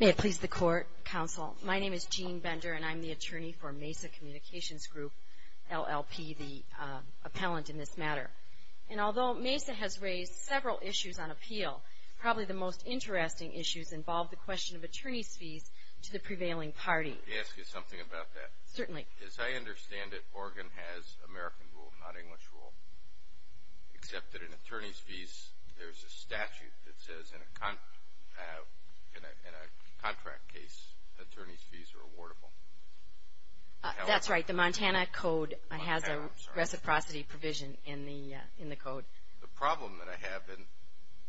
May it please the Court, Counsel. My name is Jean Bender and I'm the attorney for Mesa Communications Group, LLP, the appellant in this matter. And although Mesa has raised several issues on appeal, probably the most interesting issues involve the question of attorney's fees to the prevailing party. May I ask you something about that? Certainly. As I understand it, Oregon has American rule, not English rule, except that in attorney's fees, there's a statute that says in a contract case, attorney's fees are awardable. That's right. The Montana Code has a reciprocity provision in the Code. The problem that I have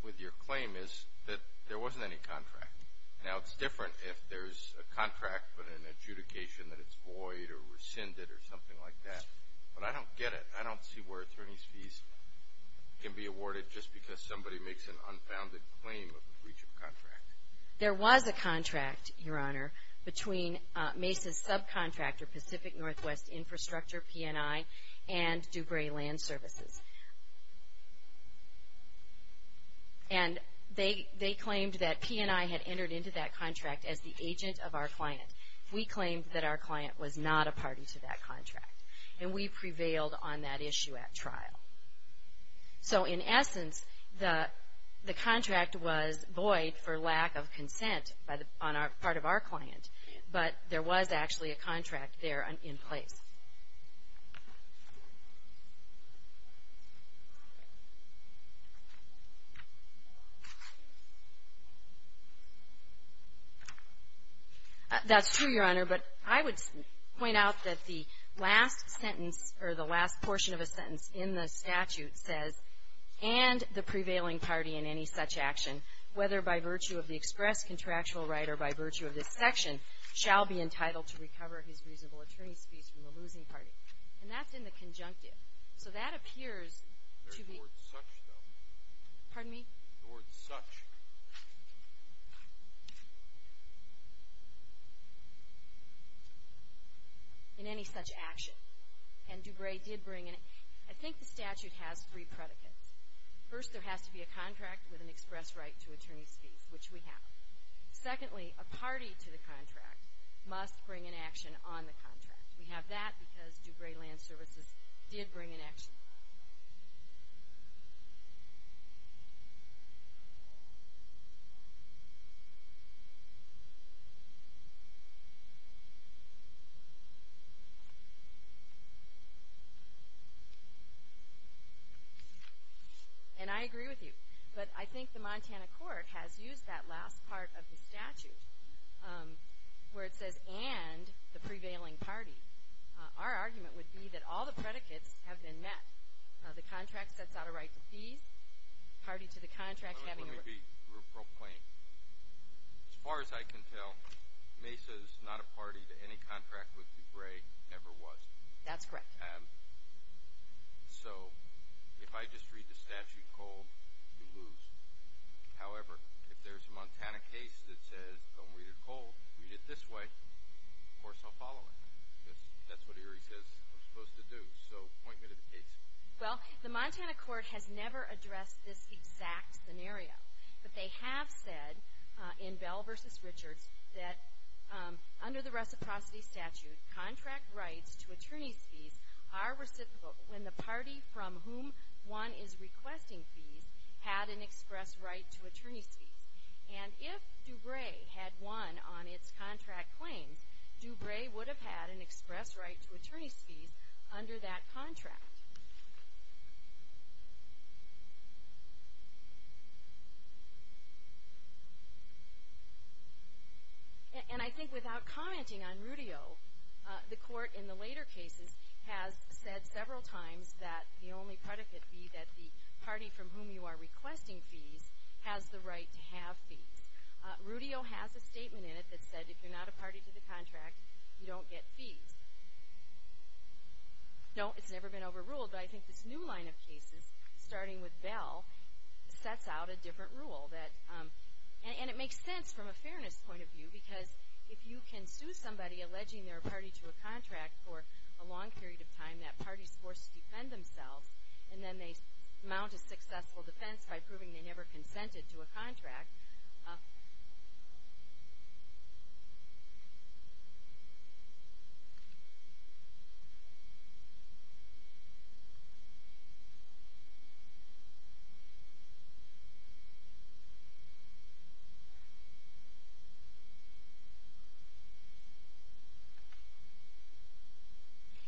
with your claim is that there wasn't any contract. Now, it's different if there's a contract but an adjudication that it's void or rescinded or something like that. But I don't get it. I don't see where attorney's fees can be awarded just because somebody makes an unfounded claim of a breach of contract. There was a contract, Your Honor, between Mesa's subcontractor, Pacific Northwest Infrastructure, P&I, and Dubray Land Services. And they claimed that P&I had entered into that contract as the agent of our client. We claimed that our client was not a party to that contract. And we prevailed on that issue at trial. So in essence, the contract was void for lack of consent on our part of our client. But there was actually a contract there in place. That's true, Your Honor. But I would point out that the last sentence or the last portion of a sentence in the statute says, and the prevailing party in any such action, whether by virtue of the express contractual right or by virtue of this section, shall be entitled to recover his reasonable attorney's fees from the losing party. And that's in the conjunctive. So that appears to be... There's the word such, though. Pardon me? The word such. In any such action. And Dubray did bring it. I think the statute has three predicates. First, there has to be a contract with an express right to attorney's fees, which we have. Secondly, a party to the contract must bring an action on the contract. We have that because Dubray Land Services did bring an action. And I agree with you. But I think the Montana court has used that last part of the statute where it says, and the prevailing party. Our argument would be that all the predicates have been met. The contract sets out a right to fees. Party to the contract having... Let me be real plain. As far as I can tell, Mesa is not a party to any contract with Dubray ever was. That's correct. So if I just read the statute cold, you lose. However, if there's a Montana case that says, don't read it cold, read it this way, of course I'll follow it. Because that's what Erie says I'm supposed to do. So point me to the case. Well, the Montana court has never addressed this exact scenario. But they have said in Bell v. Richards that under the reciprocity statute, contract rights to attorney's fees are reciprocal when the party from whom one is requesting fees had an express right to attorney's fees. And if Dubray had won on its contract claims, Dubray would have had an express right to attorney's fees under that contract. And I think without commenting on Rudio, the court in the later cases has said several times that the only predicate would be that the party from whom you are requesting fees has the right to have fees. Rudio has a statement in it that said if you're not a party to the contract, you don't get fees. No, it's never been overruled, but I think this new line of cases, starting with Bell, sets out a different rule. And it makes sense from a fairness point of view, because if you can sue somebody alleging they're a party to a contract for a long period of time, that party is forced to defend themselves. And then they mount a successful defense by proving they never consented to a contract.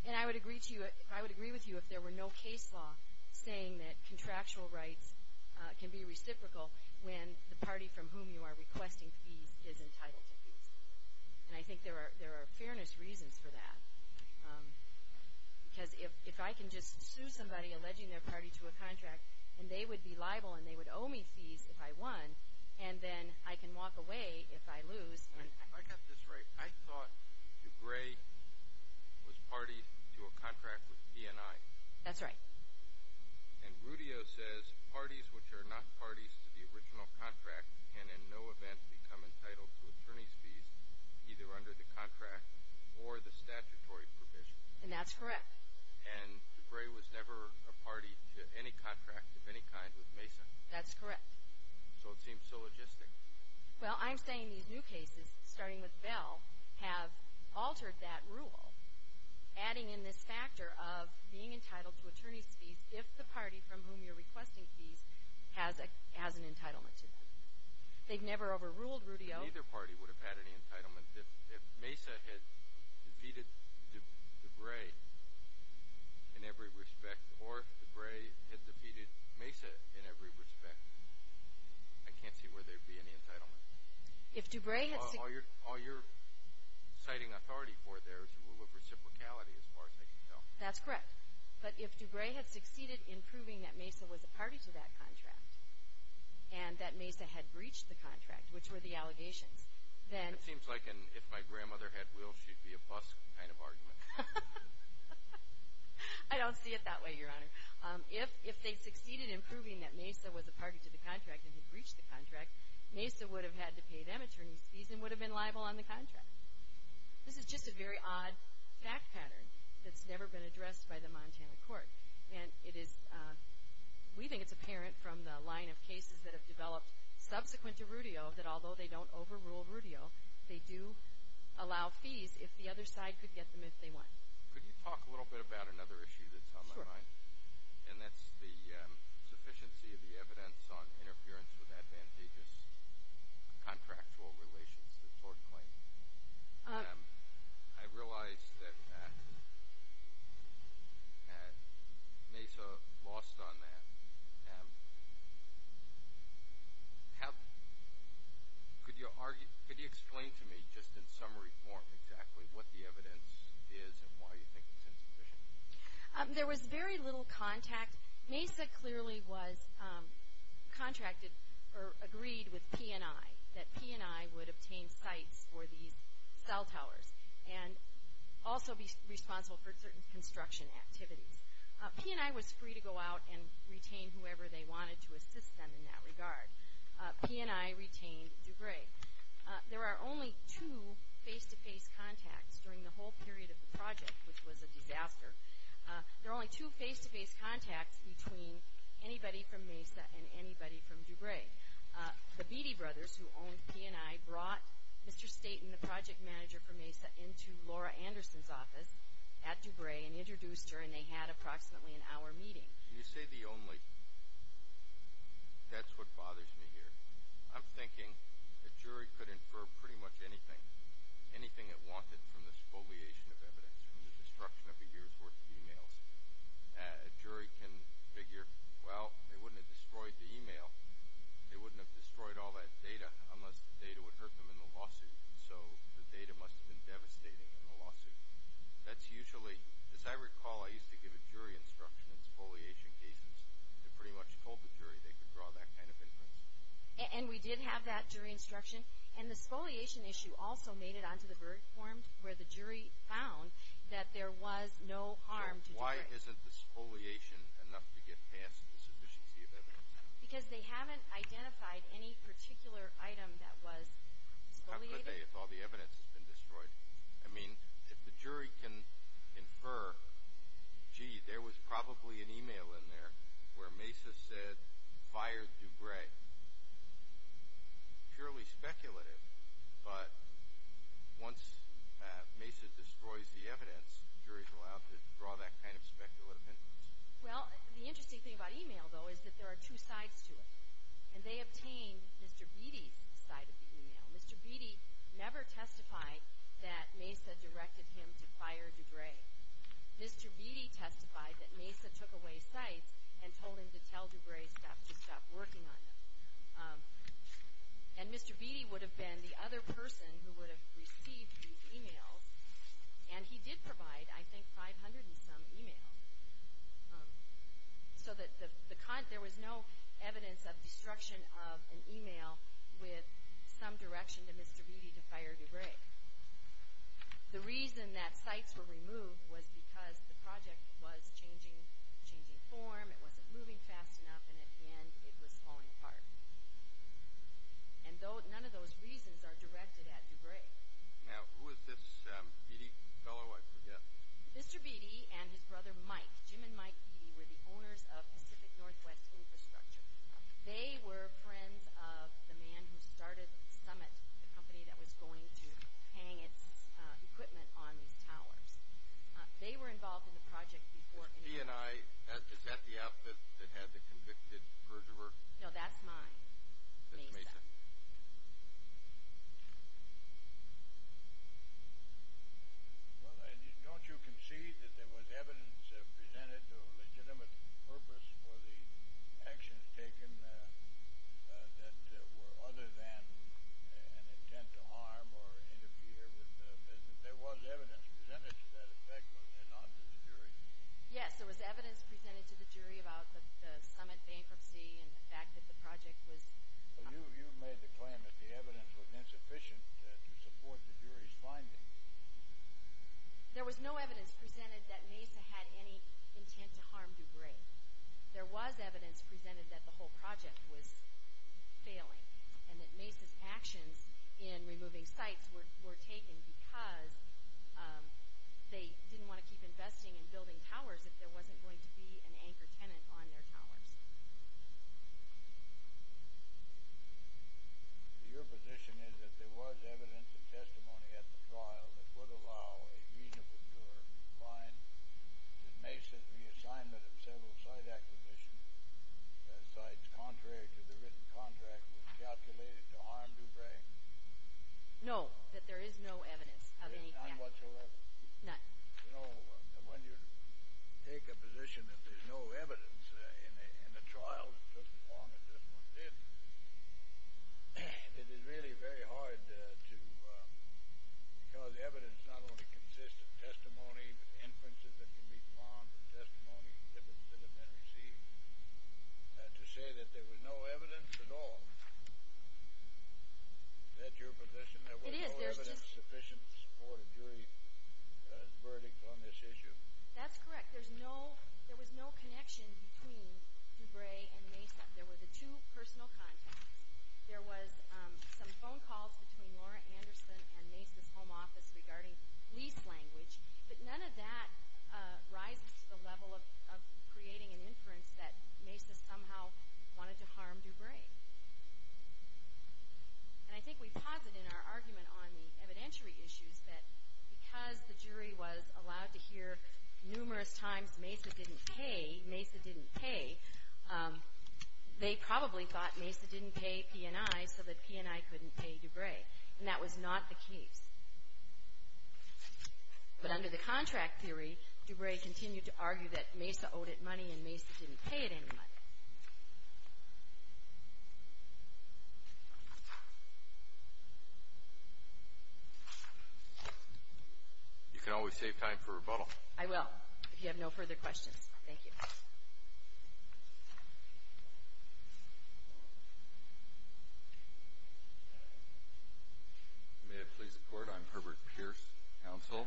And I would agree with you if there were no case law saying that contractual rights can be reciprocal when the party from whom you are requesting fees is entitled to fees. And I think there are fairness reasons for that, because if I can just sue somebody alleging they're a party to a contract, and they would be liable and they would owe me fees if I won, and then I can walk away if I lose. I got this right. I thought DeGray was party to a contract with P&I. That's right. And Rudio says parties which are not parties to the original contract can in no event become entitled to attorney's fees, either under the contract or the statutory provision. And that's correct. And DeGray was never a party to any contract of any kind with Mason. That's correct. So it seems so logistic. Well, I'm saying these new cases, starting with Bell, have altered that rule, adding in this factor of being entitled to attorney's fees if the party from whom you're requesting fees has an entitlement to them. They've never overruled Rudio. Neither party would have had any entitlement if Mesa had defeated DeGray in every respect, or if DeGray had defeated Mesa in every respect. I can't see where there would be any entitlement. All you're citing authority for there is the rule of reciprocality, as far as I can tell. That's correct. But if DeGray had succeeded in proving that Mesa was a party to that contract, and that Mesa had breached the contract, which were the allegations, then – It seems like an if my grandmother had will, she'd be a bus kind of argument. I don't see it that way, Your Honor. If they succeeded in proving that Mesa was a party to the contract and had breached the contract, Mesa would have had to pay them attorney's fees and would have been liable on the contract. This is just a very odd fact pattern that's never been addressed by the Montana court. And it is – we think it's apparent from the line of cases that have developed subsequent to Rudio that although they don't overrule Rudio, they do allow fees if the other side could get them if they want. Could you talk a little bit about another issue that's on my mind? Sure. And that's the sufficiency of the evidence on interference with advantageous contractual relations, the tort claim. I realize that Mesa lost on that. Could you explain to me just in summary form exactly what the evidence is and why you think it's insufficient? There was very little contact. Mesa clearly was contracted or agreed with P&I that P&I would obtain sites for these cell towers and also be responsible for certain construction activities. P&I was free to go out and retain whoever they wanted to assist them in that regard. P&I retained DuBray. There are only two face-to-face contacts during the whole period of the project, which was a disaster. There are only two face-to-face contacts between anybody from Mesa and anybody from DuBray. The Beattie brothers, who owned P&I, brought Mr. Staten, the project manager for Mesa, into Laura Anderson's office at DuBray and introduced her, and they had approximately an hour meeting. Can you say the only? That's what bothers me here. I'm thinking a jury could infer pretty much anything, anything it wanted from this foliation of evidence, from the destruction of a year's worth of e-mails. A jury can figure, well, they wouldn't have destroyed the e-mail. They wouldn't have destroyed all that data unless the data would hurt them in the lawsuit. So the data must have been devastating in the lawsuit. That's usually, as I recall, I used to give a jury instruction in foliation cases that pretty much told the jury they could draw that kind of inference. And we did have that jury instruction, and the foliation issue also made it onto the verdict form where the jury found that there was no harm to DuBray. So why isn't the foliation enough to get past the sufficiency of evidence? Because they haven't identified any particular item that was foliated. How could they if all the evidence has been destroyed? I mean, if the jury can infer, gee, there was probably an e-mail in there where Mesa said, fired DuBray, purely speculative. But once Mesa destroys the evidence, juries are allowed to draw that kind of speculative inference. Well, the interesting thing about e-mail, though, is that there are two sides to it, and they obtain Mr. Beatty's side of the e-mail. Mr. Beatty never testified that Mesa directed him to fire DuBray. Mr. Beatty testified that Mesa took away sites and told him to tell DuBray staff to stop working on them. And Mr. Beatty would have been the other person who would have received these e-mails, and he did provide, I think, 500 and some e-mails. So there was no evidence of destruction of an e-mail with some direction to Mr. Beatty to fire DuBray. The reason that sites were removed was because the project was changing form, it wasn't moving fast enough, and at the end it was falling apart. And none of those reasons are directed at DuBray. Now, who is this Beatty fellow I forget? Mr. Beatty and his brother Mike, Jim and Mike Beatty, were the owners of Pacific Northwest Infrastructure. They were friends of the man who started Summit, the company that was going to hang its equipment on these towers. They were involved in the project before any of this. He and I, is that the outfit that had the convicted perjurer? No, that's mine. That's Mesa. Well, don't you concede that there was evidence presented to a legitimate purpose for the actions taken that were other than an intent to harm or interfere with the business? There was evidence presented to that effect, was there not, to the jury? Yes, there was evidence presented to the jury about the Summit bankruptcy and the fact that the project was... You made the claim that the evidence was insufficient to support the jury's findings. There was no evidence presented that Mesa had any intent to harm DuBray. There was evidence presented that the whole project was failing and that Mesa's actions in removing sites were taken because they didn't want to keep investing and building towers if there wasn't going to be an anchor tenant on their towers. Your position is that there was evidence and testimony at the trial that would allow a reasonable juror to find that Mesa's reassignment of several site acquisition sites contrary to the written contract was calculated to harm DuBray? No, that there is no evidence of any... None whatsoever? None. You know, when you take a position that there's no evidence in the trial, it took as long as this one did, it is really very hard to... because the evidence not only consists of testimony, but inferences that can be found, but testimony and evidence that have been received, to say that there was no evidence at all. Is that your position? It is. There's no evidence sufficient for a jury verdict on this issue? That's correct. There was no connection between DuBray and Mesa. There were the two personal contacts. There was some phone calls between Laura Anderson and Mesa's home office regarding lease language, but none of that rises to the level of creating an inference that Mesa somehow wanted to harm DuBray. And I think we posit in our argument on the evidentiary issues that because the jury was allowed to hear numerous times Mesa didn't pay, Mesa didn't pay, they probably thought Mesa didn't pay P&I so that P&I couldn't pay DuBray. And that was not the case. But under the contract theory, DuBray continued to argue that Mesa owed it money and Mesa didn't pay it any money. You can always save time for rebuttal. I will, if you have no further questions. Thank you. May it please the Court, I'm Herbert Pierce, counsel.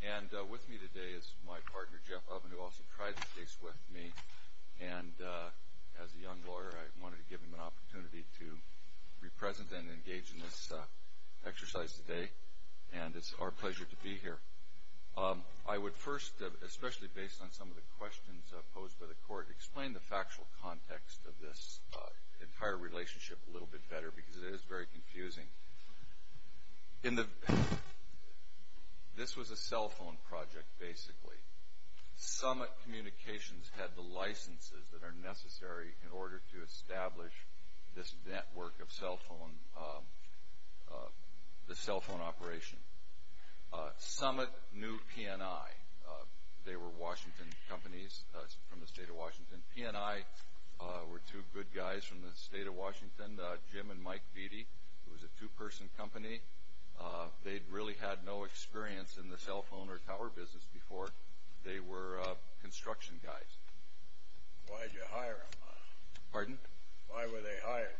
And with me today is my partner, Jeff Oven, who also tried the case with me. And as a young lawyer, I wanted to give him an opportunity to be present and engage in this exercise today. And it's our pleasure to be here. I would first, especially based on some of the questions posed by the Court, explain the factual context of this entire relationship a little bit better because it is very confusing. This was a cell phone project, basically. Summit Communications had the licenses that are necessary in order to establish this network of cell phone, the cell phone operation. Summit knew P&I. They were Washington companies from the state of Washington. P&I were two good guys from the state of Washington, Jim and Mike Beattie, who was a two-person company. They really had no experience in the cell phone or tower business before. They were construction guys. Why did you hire them? Pardon? Why were they hired?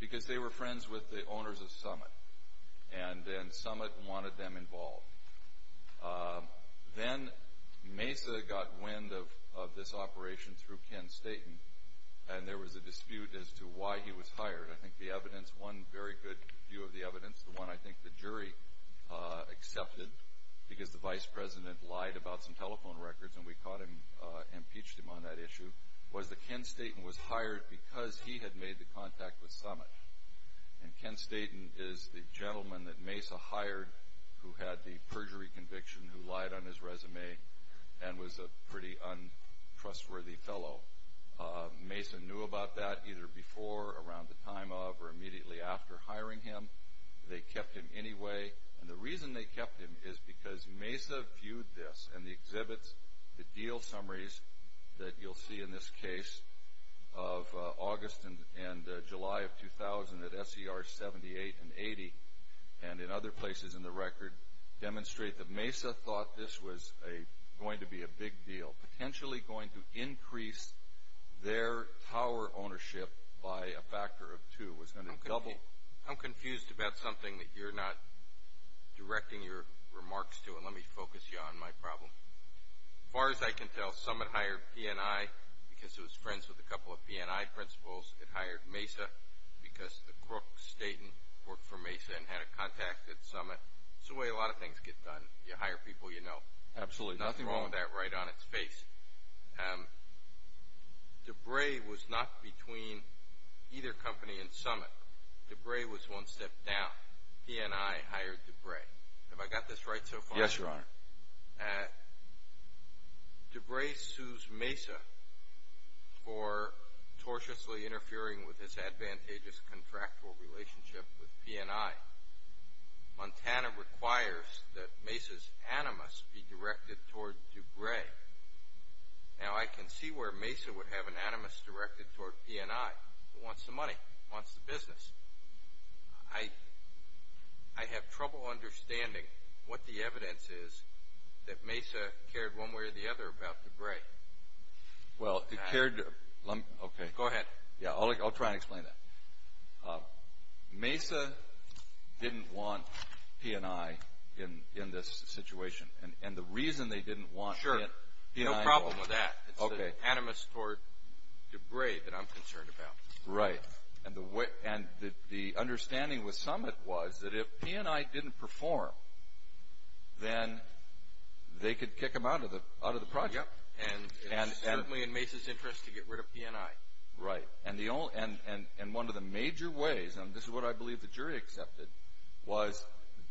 Because they were friends with the owners of Summit, and then Summit wanted them involved. Then Mesa got wind of this operation through Ken Staton, and there was a dispute as to why he was hired. I think the evidence, one very good view of the evidence, the one I think the jury accepted because the Vice President lied about some telephone records and we caught him, impeached him on that issue, was that Ken Staton was hired because he had made the contact with Summit. And Ken Staton is the gentleman that Mesa hired who had the perjury conviction, who lied on his resume and was a pretty untrustworthy fellow. Mesa knew about that either before, around the time of, or immediately after hiring him. They kept him anyway. And the reason they kept him is because Mesa viewed this and the exhibits, the deal summaries that you'll see in this case of August and July of 2000 at SER 78 and 80 and in other places in the record demonstrate that Mesa thought this was going to be a big deal, potentially going to increase their tower ownership by a factor of two. It was going to double. I'm confused about something that you're not directing your remarks to, and let me focus you on my problem. As far as I can tell, Summit hired PNI because it was friends with a couple of PNI principals. It hired Mesa because the crook Staton worked for Mesa and had a contact at Summit. It's the way a lot of things get done. You hire people you know. Absolutely. There's nothing wrong with that right on its face. DeBray was not between either company and Summit. DeBray was one step down. PNI hired DeBray. Have I got this right so far? Yes, Your Honor. DeBray sues Mesa for tortiously interfering with his advantageous contractual relationship with PNI. Montana requires that Mesa's animus be directed toward DeBray. Now, I can see where Mesa would have an animus directed toward PNI. It wants the money. It wants the business. I have trouble understanding what the evidence is that Mesa cared one way or the other about DeBray. Well, it cared. Go ahead. I'll try and explain that. Mesa didn't want PNI in this situation, and the reason they didn't want PNI. Sure. No problem with that. Okay. It's an animus toward DeBray that I'm concerned about. Right. And the understanding with Summit was that if PNI didn't perform, then they could kick him out of the project. Yep. And it was certainly in Mesa's interest to get rid of PNI. Right. And one of the major ways, and this is what I believe the jury accepted, was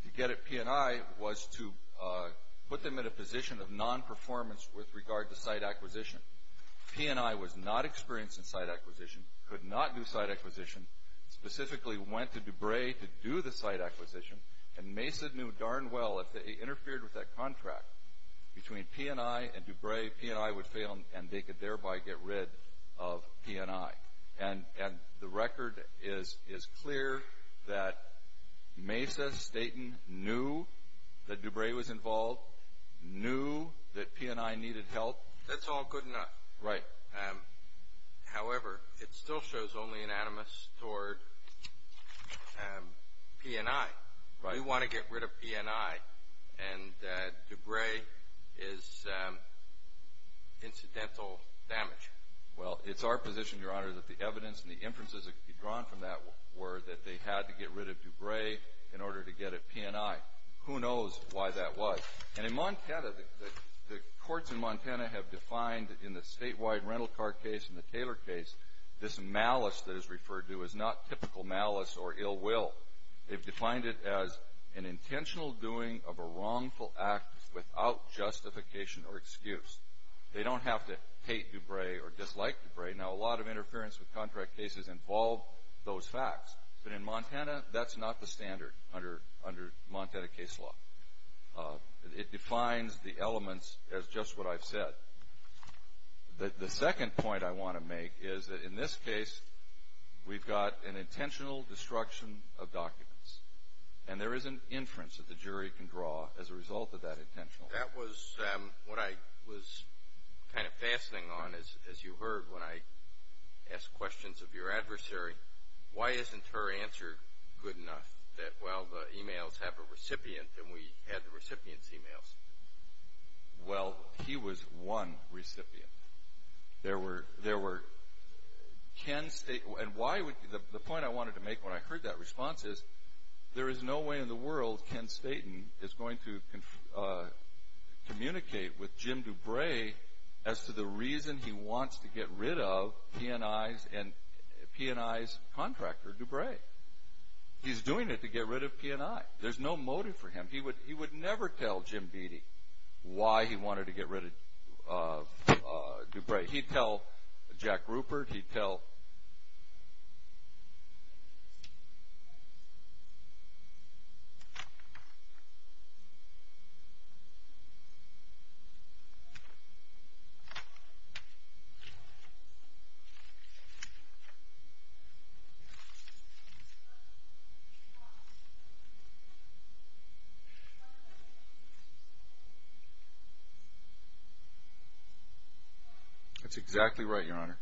to get at PNI was to put them in a position of non-performance with regard to site acquisition. PNI was not experienced in site acquisition, could not do site acquisition, specifically went to DeBray to do the site acquisition, and Mesa knew darn well if they interfered with that contract between PNI and DeBray, PNI would fail and they could thereby get rid of PNI. And the record is clear that Mesa, Staton, knew that DeBray was involved, knew that PNI needed help. That's all good enough. Right. However, it still shows only an animus toward PNI. Right. We want to get rid of PNI, and DeBray is incidental damage. Well, it's our position, Your Honor, that the evidence and the inferences that could be drawn from that were that they had to get rid of DeBray in order to get at PNI. Who knows why that was? And in Montana, the courts in Montana have defined in the statewide rental car case and the Taylor case this malice that is referred to as not typical malice or ill will. They've defined it as an intentional doing of a wrongful act without justification or excuse. They don't have to hate DeBray or dislike DeBray. Now, a lot of interference with contract cases involve those facts. But in Montana, that's not the standard under Montana case law. It defines the elements as just what I've said. The second point I want to make is that in this case, we've got an intentional destruction of documents, and there is an inference that the jury can draw as a result of that intentional. That was what I was kind of fastening on, as you heard, when I asked questions of your adversary. Why isn't her answer good enough that, well, the e-mails have a recipient and we had the recipient's e-mails? Well, he was one recipient. The point I wanted to make when I heard that response is, there is no way in the world Ken Staton is going to communicate with Jim DeBray as to the reason he wants to get rid of P&I's contractor, DeBray. He's doing it to get rid of P&I. There's no motive for him. He would never tell Jim Beattie why he wanted to get rid of DeBray. He'd tell Jack Rupert. He'd tell— That's exactly right, Your Honor.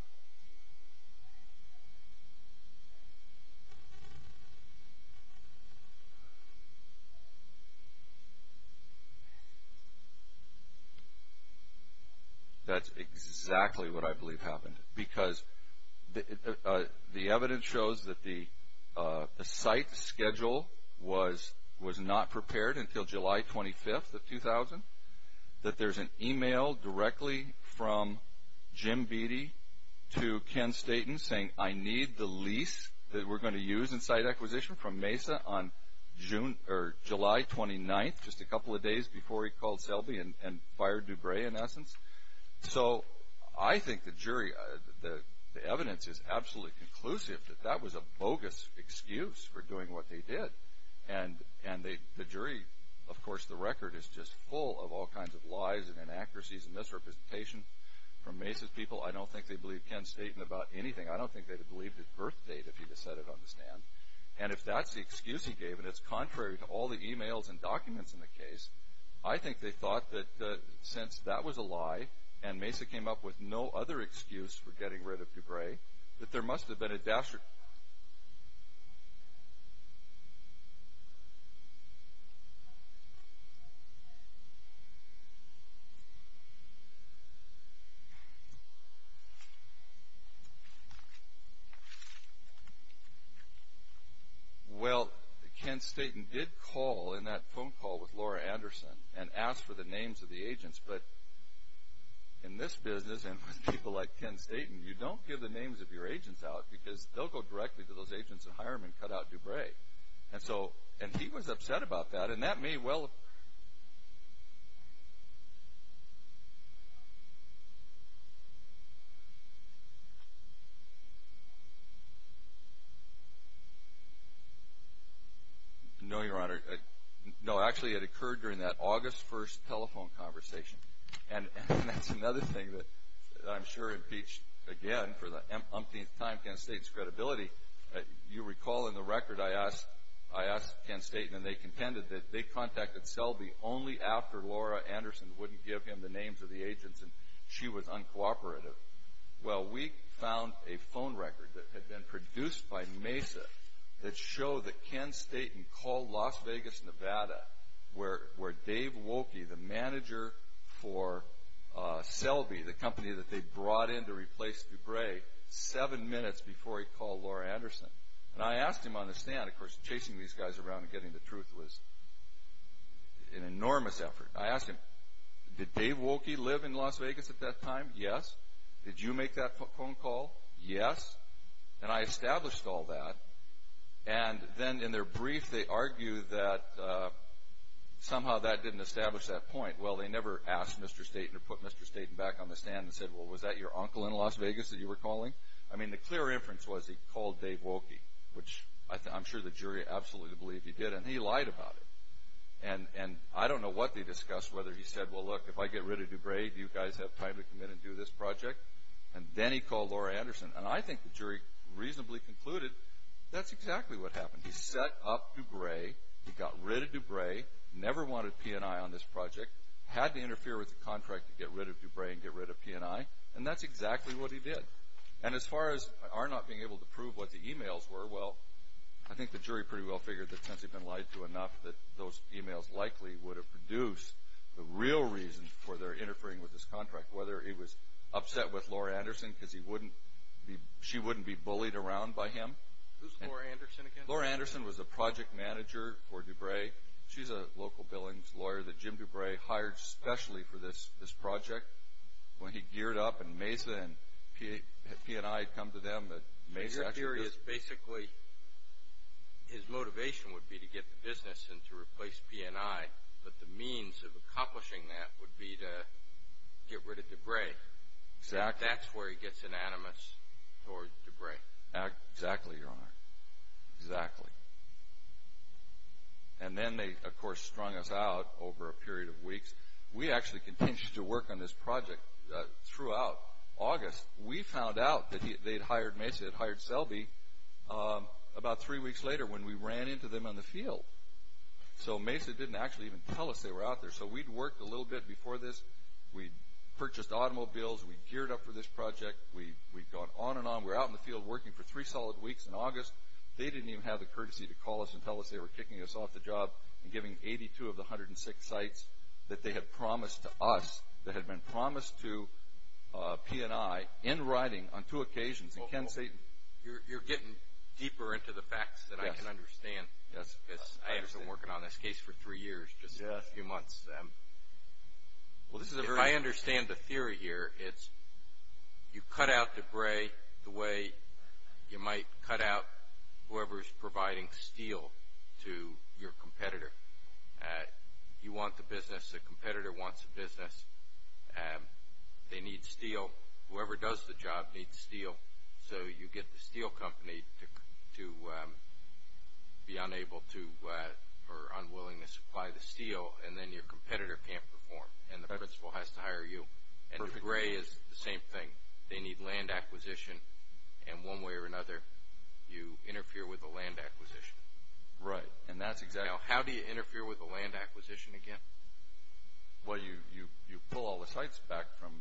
That's exactly what I believe happened, because the evidence shows that the site schedule was not prepared until July 25th of 2000, that there's an e-mail directly from Jim Beattie to Ken Staton saying, I need the lease that we're going to use in site acquisition from Mesa on July 29th, just a couple of days before he called Selby and fired DeBray, in essence. So I think the jury, the evidence is absolutely conclusive that that was a bogus excuse for doing what they did. And the jury, of course, the record is just full of all kinds of lies and inaccuracies and misrepresentation from Mesa's people. I don't think they believed Ken Staton about anything. I don't think they'd have believed his birth date if he'd have said it on the stand. And if that's the excuse he gave, and it's contrary to all the e-mails and documents in the case, I think they thought that since that was a lie, and Mesa came up with no other excuse for getting rid of DeBray, that there must have been a dastardly... Well, Ken Staton did call in that phone call with Laura Anderson and asked for the names of the agents. But in this business and with people like Ken Staton, you don't give the names of your agents out because they'll go directly to those agents and hire them and cut out DeBray. And he was upset about that, and that may well... No, Your Honor. No, actually, it occurred during that August 1st telephone conversation. And that's another thing that I'm sure impeached, again, for the umpteenth time, Ken Staton's credibility. You recall in the record, I asked Ken Staton, and they contended that they contacted Selby only after Laura Anderson wouldn't give him the names of the agents and she was uncooperative. Well, we found a phone record that had been produced by Mesa that showed that Ken Staton called Las Vegas, Nevada, where Dave Woelke, the manager for Selby, the company that they brought in to replace DeBray, seven minutes before he called Laura Anderson. And I asked him on the stand, of course, chasing these guys around and getting the truth was an enormous effort. I asked him, did Dave Woelke live in Las Vegas at that time? Yes. Did you make that phone call? Yes. And I established all that. And then in their brief, they argue that somehow that didn't establish that point. Well, they never asked Mr. Staton or put Mr. Staton back on the stand and said, well, was that your uncle in Las Vegas that you were calling? I mean, the clear inference was he called Dave Woelke, which I'm sure the jury absolutely believed he did, and he lied about it. And I don't know what they discussed, whether he said, well, look, if I get rid of DeBray, do you guys have time to come in and do this project? And then he called Laura Anderson. And I think the jury reasonably concluded that's exactly what happened. He set up DeBray, he got rid of DeBray, never wanted P&I on this project, had to interfere with the contract to get rid of DeBray and get rid of P&I, and that's exactly what he did. And as far as our not being able to prove what the e-mails were, well, I think the jury pretty well figured that since he'd been lied to enough that those e-mails likely would have produced the real reason for their interfering with this contract, whether he was upset with Laura Anderson because she wouldn't be bullied around by him. Who's Laura Anderson again? Laura Anderson was a project manager for DeBray. She's a local billings lawyer that Jim DeBray hired specially for this project. When he geared up and Mesa and P&I had come to them that Mesa actually was Your theory is basically his motivation would be to get the business and to replace P&I, but the means of accomplishing that would be to get rid of DeBray. Exactly. That's where he gets unanimous towards DeBray. Exactly, Your Honor, exactly. And then they, of course, strung us out over a period of weeks. We actually continued to work on this project throughout August. We found out that Mesa had hired Selby about three weeks later when we ran into them in the field. So Mesa didn't actually even tell us they were out there. So we'd worked a little bit before this. We'd purchased automobiles. We'd geared up for this project. We'd gone on and on. We were out in the field working for three solid weeks in August. They didn't even have the courtesy to call us and tell us they were kicking us off the job and giving 82 of the 106 sites that they had promised to us, that had been promised to P&I in writing on two occasions. You're getting deeper into the facts that I can understand. Yes. I have been working on this case for three years, just a few months. I understand the theory here. It's you cut out debris the way you might cut out whoever is providing steel to your competitor. You want the business. The competitor wants the business. They need steel. Whoever does the job needs steel. So you get the steel company to be unable to or unwilling to supply the steel, and then your competitor can't perform, and the principal has to hire you. The gray is the same thing. They need land acquisition, and one way or another, you interfere with the land acquisition. Right. How do you interfere with the land acquisition again? Well, you pull all the sites back from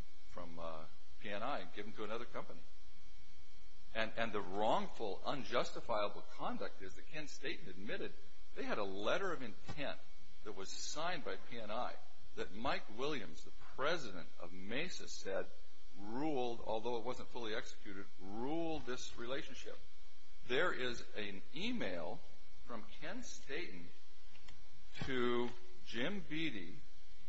P&I and give them to another company. And the wrongful, unjustifiable conduct is that Ken Staten admitted they had a letter of intent that was signed by P&I that Mike Williams, the president of Mesa, said ruled, although it wasn't fully executed, ruled this relationship. There is an email from Ken Staten to Jim Beattie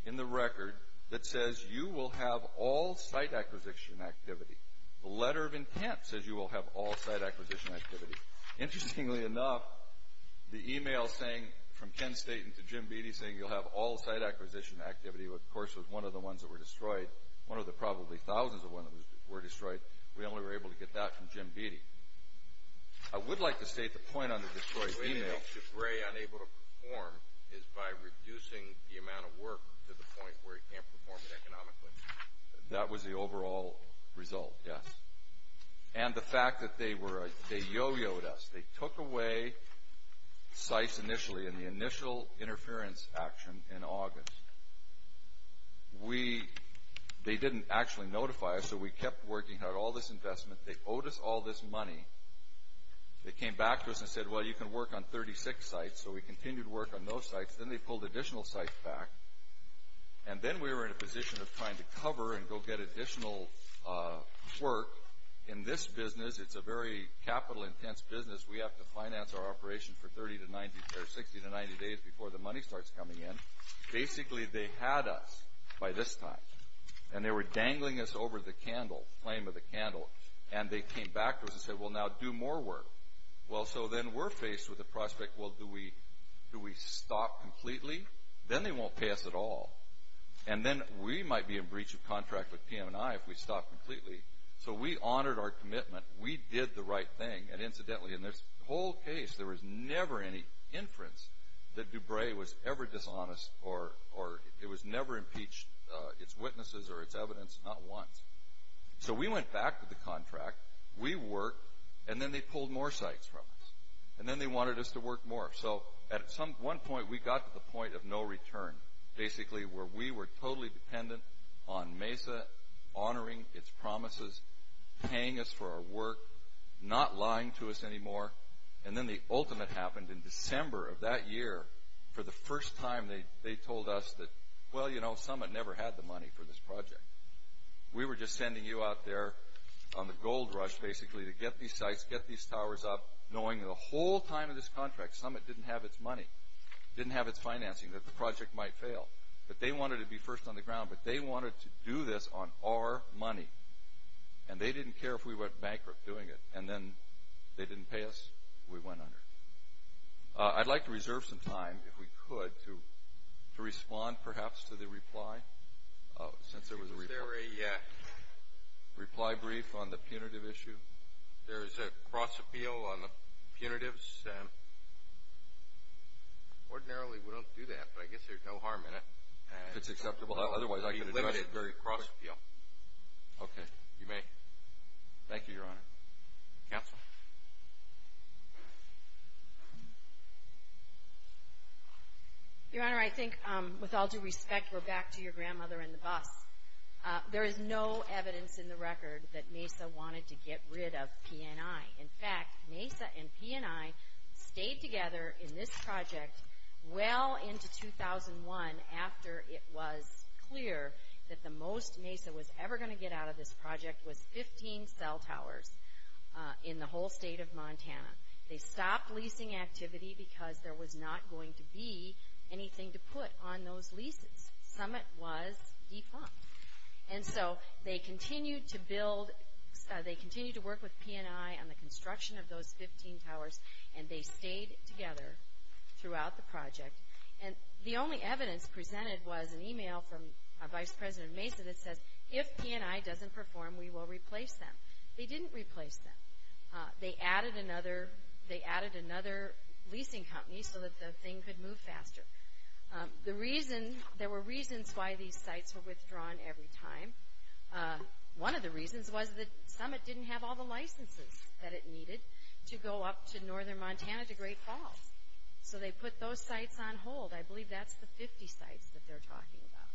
in the record that says, you will have all site acquisition activity. The letter of intent says you will have all site acquisition activity. Interestingly enough, the email from Ken Staten to Jim Beattie saying you'll have all site acquisition activity, of course, was one of the ones that were destroyed, one of the probably thousands of ones that were destroyed. We only were able to get that from Jim Beattie. I would like to state the point on the destroyed email. The only way to keep Gray unable to perform is by reducing the amount of work to the point where he can't perform it economically. That was the overall result, yes. And the fact that they yo-yoed us. They took away sites initially in the initial interference action in August. They didn't actually notify us, so we kept working out all this investment. They owed us all this money. They came back to us and said, well, you can work on 36 sites, so we continued to work on those sites. Then they pulled additional sites back. And then we were in a position of trying to cover and go get additional work in this business. It's a very capital-intense business. We have to finance our operation for 30 to 60 to 90 days before the money starts coming in. Basically, they had us by this time, and they were dangling us over the flame of the candle. And they came back to us and said, well, now do more work. Well, so then we're faced with the prospect, well, do we stop completely? Then they won't pay us at all. And then we might be in breach of contract with PM&I if we stop completely. So we honored our commitment. We did the right thing. And incidentally, in this whole case, there was never any inference that DuBray was ever dishonest or it was never impeached, its witnesses or its evidence, not once. So we went back to the contract. We worked. And then they pulled more sites from us. And then they wanted us to work more. So at one point, we got to the point of no return, basically, where we were totally dependent on Mesa honoring its promises, paying us for our work, not lying to us anymore. And then the ultimate happened. In December of that year, for the first time, they told us that, well, you know, Summit never had the money for this project. We were just sending you out there on the gold rush, basically, to get these sites, get these towers up, knowing the whole time of this contract Summit didn't have its money, didn't have its financing, that the project might fail. But they wanted to be first on the ground. But they wanted to do this on our money. And they didn't care if we went bankrupt doing it. And then they didn't pay us. We went under. I'd like to reserve some time, if we could, to respond, perhaps, to the reply. Since there was a reply. Is there a reply brief on the punitive issue? There is a cross-appeal on the punitives. Ordinarily, we don't do that. But I guess there's no harm in it. If it's acceptable. Otherwise, I could address it very quickly. Okay. You may. Thank you, Your Honor. Counsel. Your Honor, I think, with all due respect, we're back to your grandmother and the bus. There is no evidence in the record that MESA wanted to get rid of PNI. In fact, MESA and PNI stayed together in this project well into 2001, after it was clear that the most MESA was ever going to get out of this project was 15 cell towers in the whole state of Montana. They stopped leasing activity because there was not going to be anything to put on those leases. Summit was defunct. And so they continued to work with PNI on the construction of those 15 towers, and they stayed together throughout the project. And the only evidence presented was an email from Vice President MESA that says, if PNI doesn't perform, we will replace them. They didn't replace them. They added another leasing company so that the thing could move faster. There were reasons why these sites were withdrawn every time. One of the reasons was that Summit didn't have all the licenses that it needed to go up to northern Montana to Great Falls. So they put those sites on hold. I believe that's the 50 sites that they're talking about.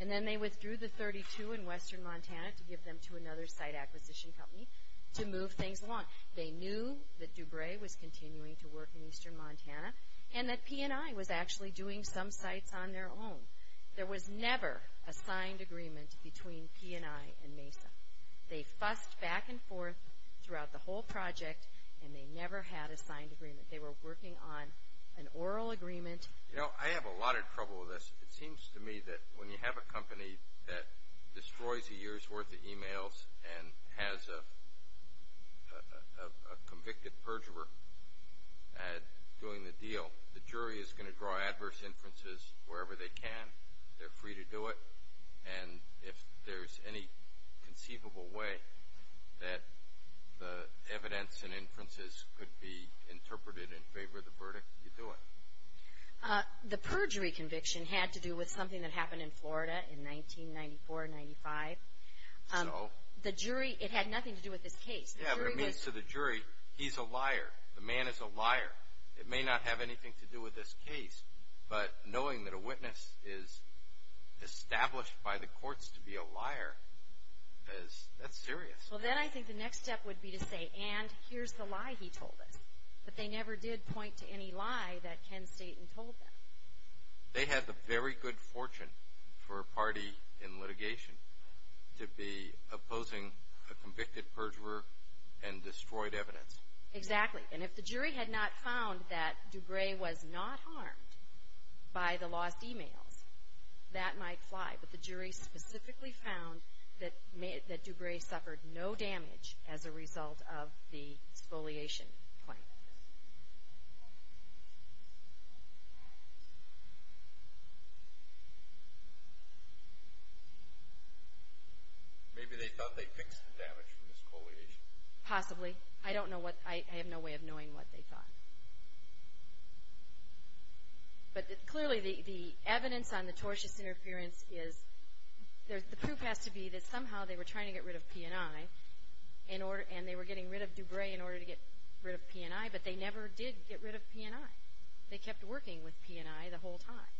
And then they withdrew the 32 in western Montana to give them to another site acquisition company to move things along. They knew that DuBray was continuing to work in eastern Montana, and that PNI was actually doing some sites on their own. There was never a signed agreement between PNI and MESA. They fussed back and forth throughout the whole project, and they never had a signed agreement. They were working on an oral agreement. You know, I have a lot of trouble with this. It seems to me that when you have a company that destroys a year's worth of emails and has a convicted perjurer doing the deal, the jury is going to draw adverse inferences wherever they can. They're free to do it. And if there's any conceivable way that the evidence and inferences could be interpreted in favor of the verdict, you do it. The perjury conviction had to do with something that happened in Florida in 1994, 1995. So? The jury, it had nothing to do with this case. Yeah, but it means to the jury, he's a liar. The man is a liar. It may not have anything to do with this case. But knowing that a witness is established by the courts to be a liar, that's serious. Well, then I think the next step would be to say, and here's the lie he told us. But they never did point to any lie that Ken Staton told them. They had the very good fortune for a party in litigation to be opposing a convicted perjurer and destroyed evidence. Exactly. And if the jury had not found that DuBray was not harmed by the lost e-mails, that might fly. But the jury specifically found that DuBray suffered no damage as a result of the exfoliation claim. Maybe they thought they fixed the damage from the exfoliation. Possibly. I don't know what, I have no way of knowing what they thought. But clearly the evidence on the tortious interference is, the proof has to be that somehow they were trying to get rid of P&I, and they were getting rid of DuBray in order to get rid of P&I, but they never did get rid of P&I. They kept working with P&I the whole time.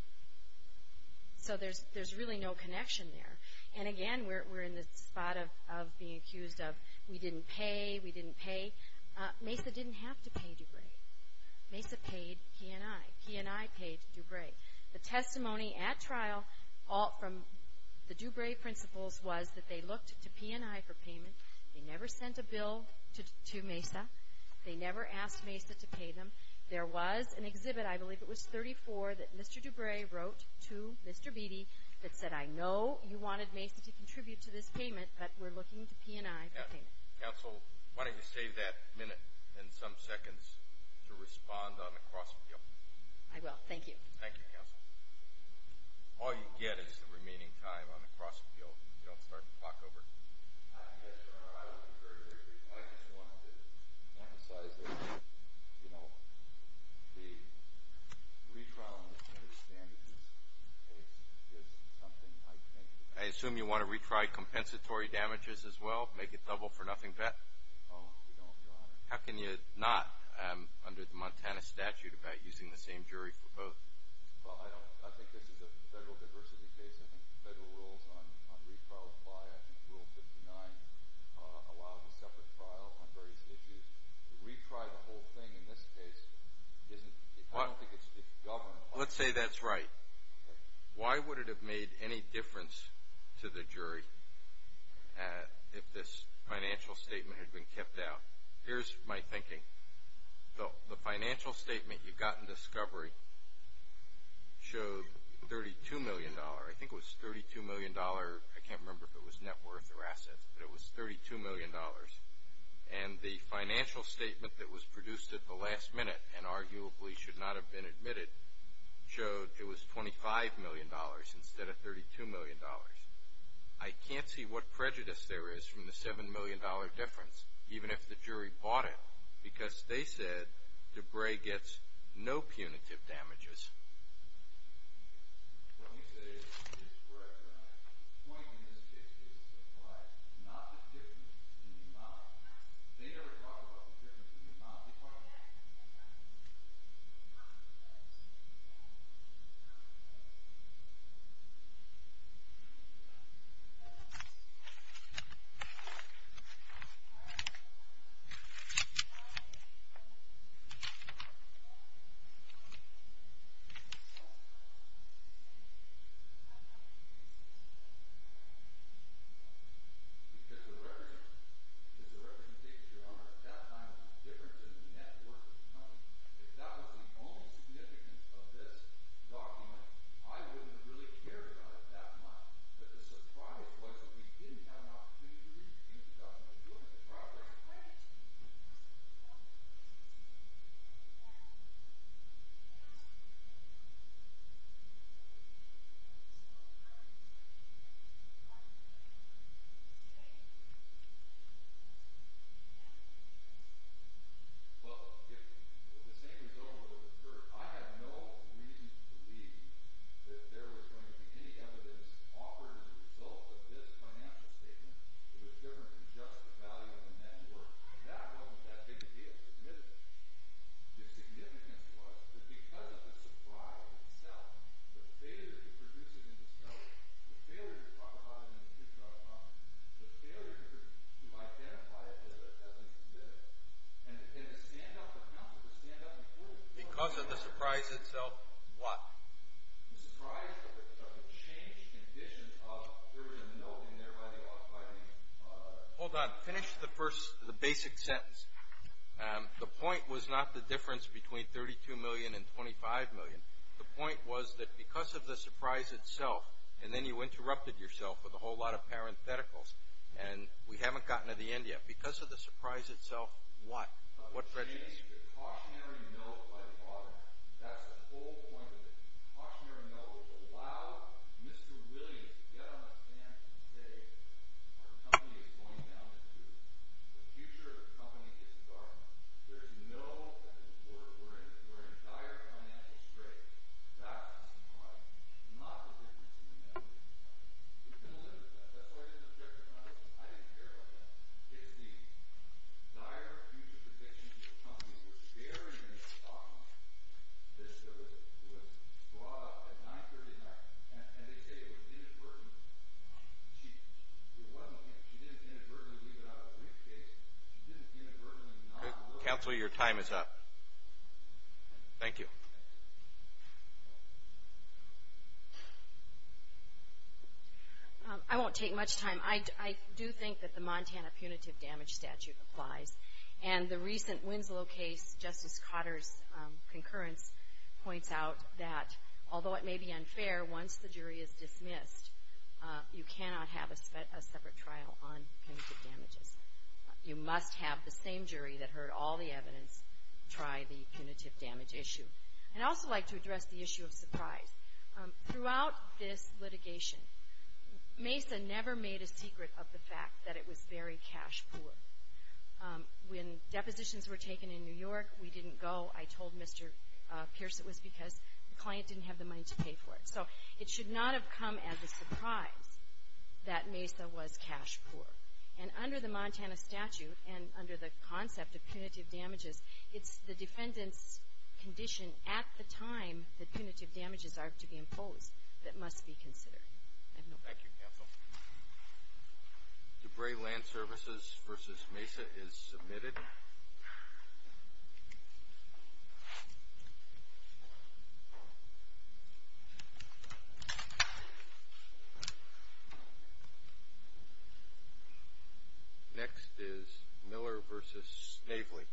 So there's really no connection there. And again, we're in the spot of being accused of we didn't pay, we didn't pay. MESA didn't have to pay DuBray. MESA paid P&I. P&I paid DuBray. The testimony at trial from the DuBray principals was that they looked to P&I for payment. They never sent a bill to MESA. They never asked MESA to pay them. There was an exhibit, I believe it was 34, that Mr. DuBray wrote to Mr. Beatty that said, I know you wanted MESA to contribute to this payment, but we're looking to P&I for payment. Counsel, why don't you save that minute and some seconds to respond on the cross-appeal. I will. Thank you. Thank you, Counsel. All you get is the remaining time on the cross-appeal. You don't start the clock over. Yes, Your Honor, I would concur. I just wanted to emphasize that, you know, the retrial in the standard case is something I think... I assume you want to retry compensatory damages as well, make it double for nothing bet? No, we don't, Your Honor. How can you not, under the Montana statute, about using the same jury for both? Well, I think this is a federal diversity case. I think the federal rules on retrial apply. I think Rule 59 allows a separate trial on various issues. To retry the whole thing in this case isn't, I don't think it's governed... Let's say that's right. Why would it have made any difference to the jury if this financial statement had been kept out? Here's my thinking. The financial statement you got in discovery showed $32 million. I think it was $32 million. I can't remember if it was net worth or assets, but it was $32 million. And the financial statement that was produced at the last minute, and arguably should not have been admitted, showed it was $25 million instead of $32 million. I can't see what prejudice there is from the $7 million difference, even if the jury bought it, because they said DeBray gets no punitive damages. Let me say this is correct, Your Honor. The point in this case is to apply not the difference in the amount. They never talked about the difference in the amount before. Because the representation, Your Honor, at that time was different than the net worth. If that was the only significance of this document, I wouldn't have really cared about it that much. But the surprise was that we didn't have an opportunity to read the document. We were doing some progress. Well, if the same result would have occurred, I have no reason to believe that there was going to be any evidence offered as a result of this financial statement that was different than just the value of the net worth. And that wasn't that big a deal. The significance was that because of the surprise itself, the failure to produce it in itself, the failure to talk about it in the future, I apologize, the failure to identify it as a commitment, and to stand up for counsel, to stand up and prove it. Because of the surprise itself, what? The surprise of a changed condition of urgent note in there by the author. Hold on. Finish the first, the basic sentence. The point was not the difference between $32 million and $25 million. The point was that because of the surprise itself, and then you interrupted yourself with a whole lot of parentheticals, and we haven't gotten to the end yet. Because of the surprise itself, what? The cautionary note by the author. That's the whole point of it. The cautionary note would allow Mr. Williams to get on his hands and say, our company is going down the tube. The future of the company is dark. There is no effective order. We're in dire financial straits. That's the surprise. Not the difference in the net worth. We've been living with that. That's why I didn't object to it when I listened. I didn't care about that. It's the dire future of the company. We're staring at the stock market. This was brought up at 939, and they say it was inadvertently. It wasn't. She didn't inadvertently leave it out of the briefcase. She didn't inadvertently not look at it. Counselor, your time is up. Thank you. I won't take much time. I do think that the Montana punitive damage statute applies. And the recent Winslow case, Justice Cotter's concurrence points out that, although it may be unfair, once the jury is dismissed, you cannot have a separate trial on punitive damages. You must have the same jury that heard all the evidence try the punitive damage issue. I'd also like to address the issue of surprise. Throughout this litigation, MESA never made a secret of the fact that it was very cash poor. When depositions were taken in New York, we didn't go. I told Mr. Pierce it was because the client didn't have the money to pay for it. So it should not have come as a surprise that MESA was cash poor. And under the Montana statute and under the concept of punitive damages, it's the defendant's condition at the time that punitive damages are to be imposed that must be considered. Thank you, Counsel. Debray Land Services v. MESA is submitted. Next is Miller v. Snavely.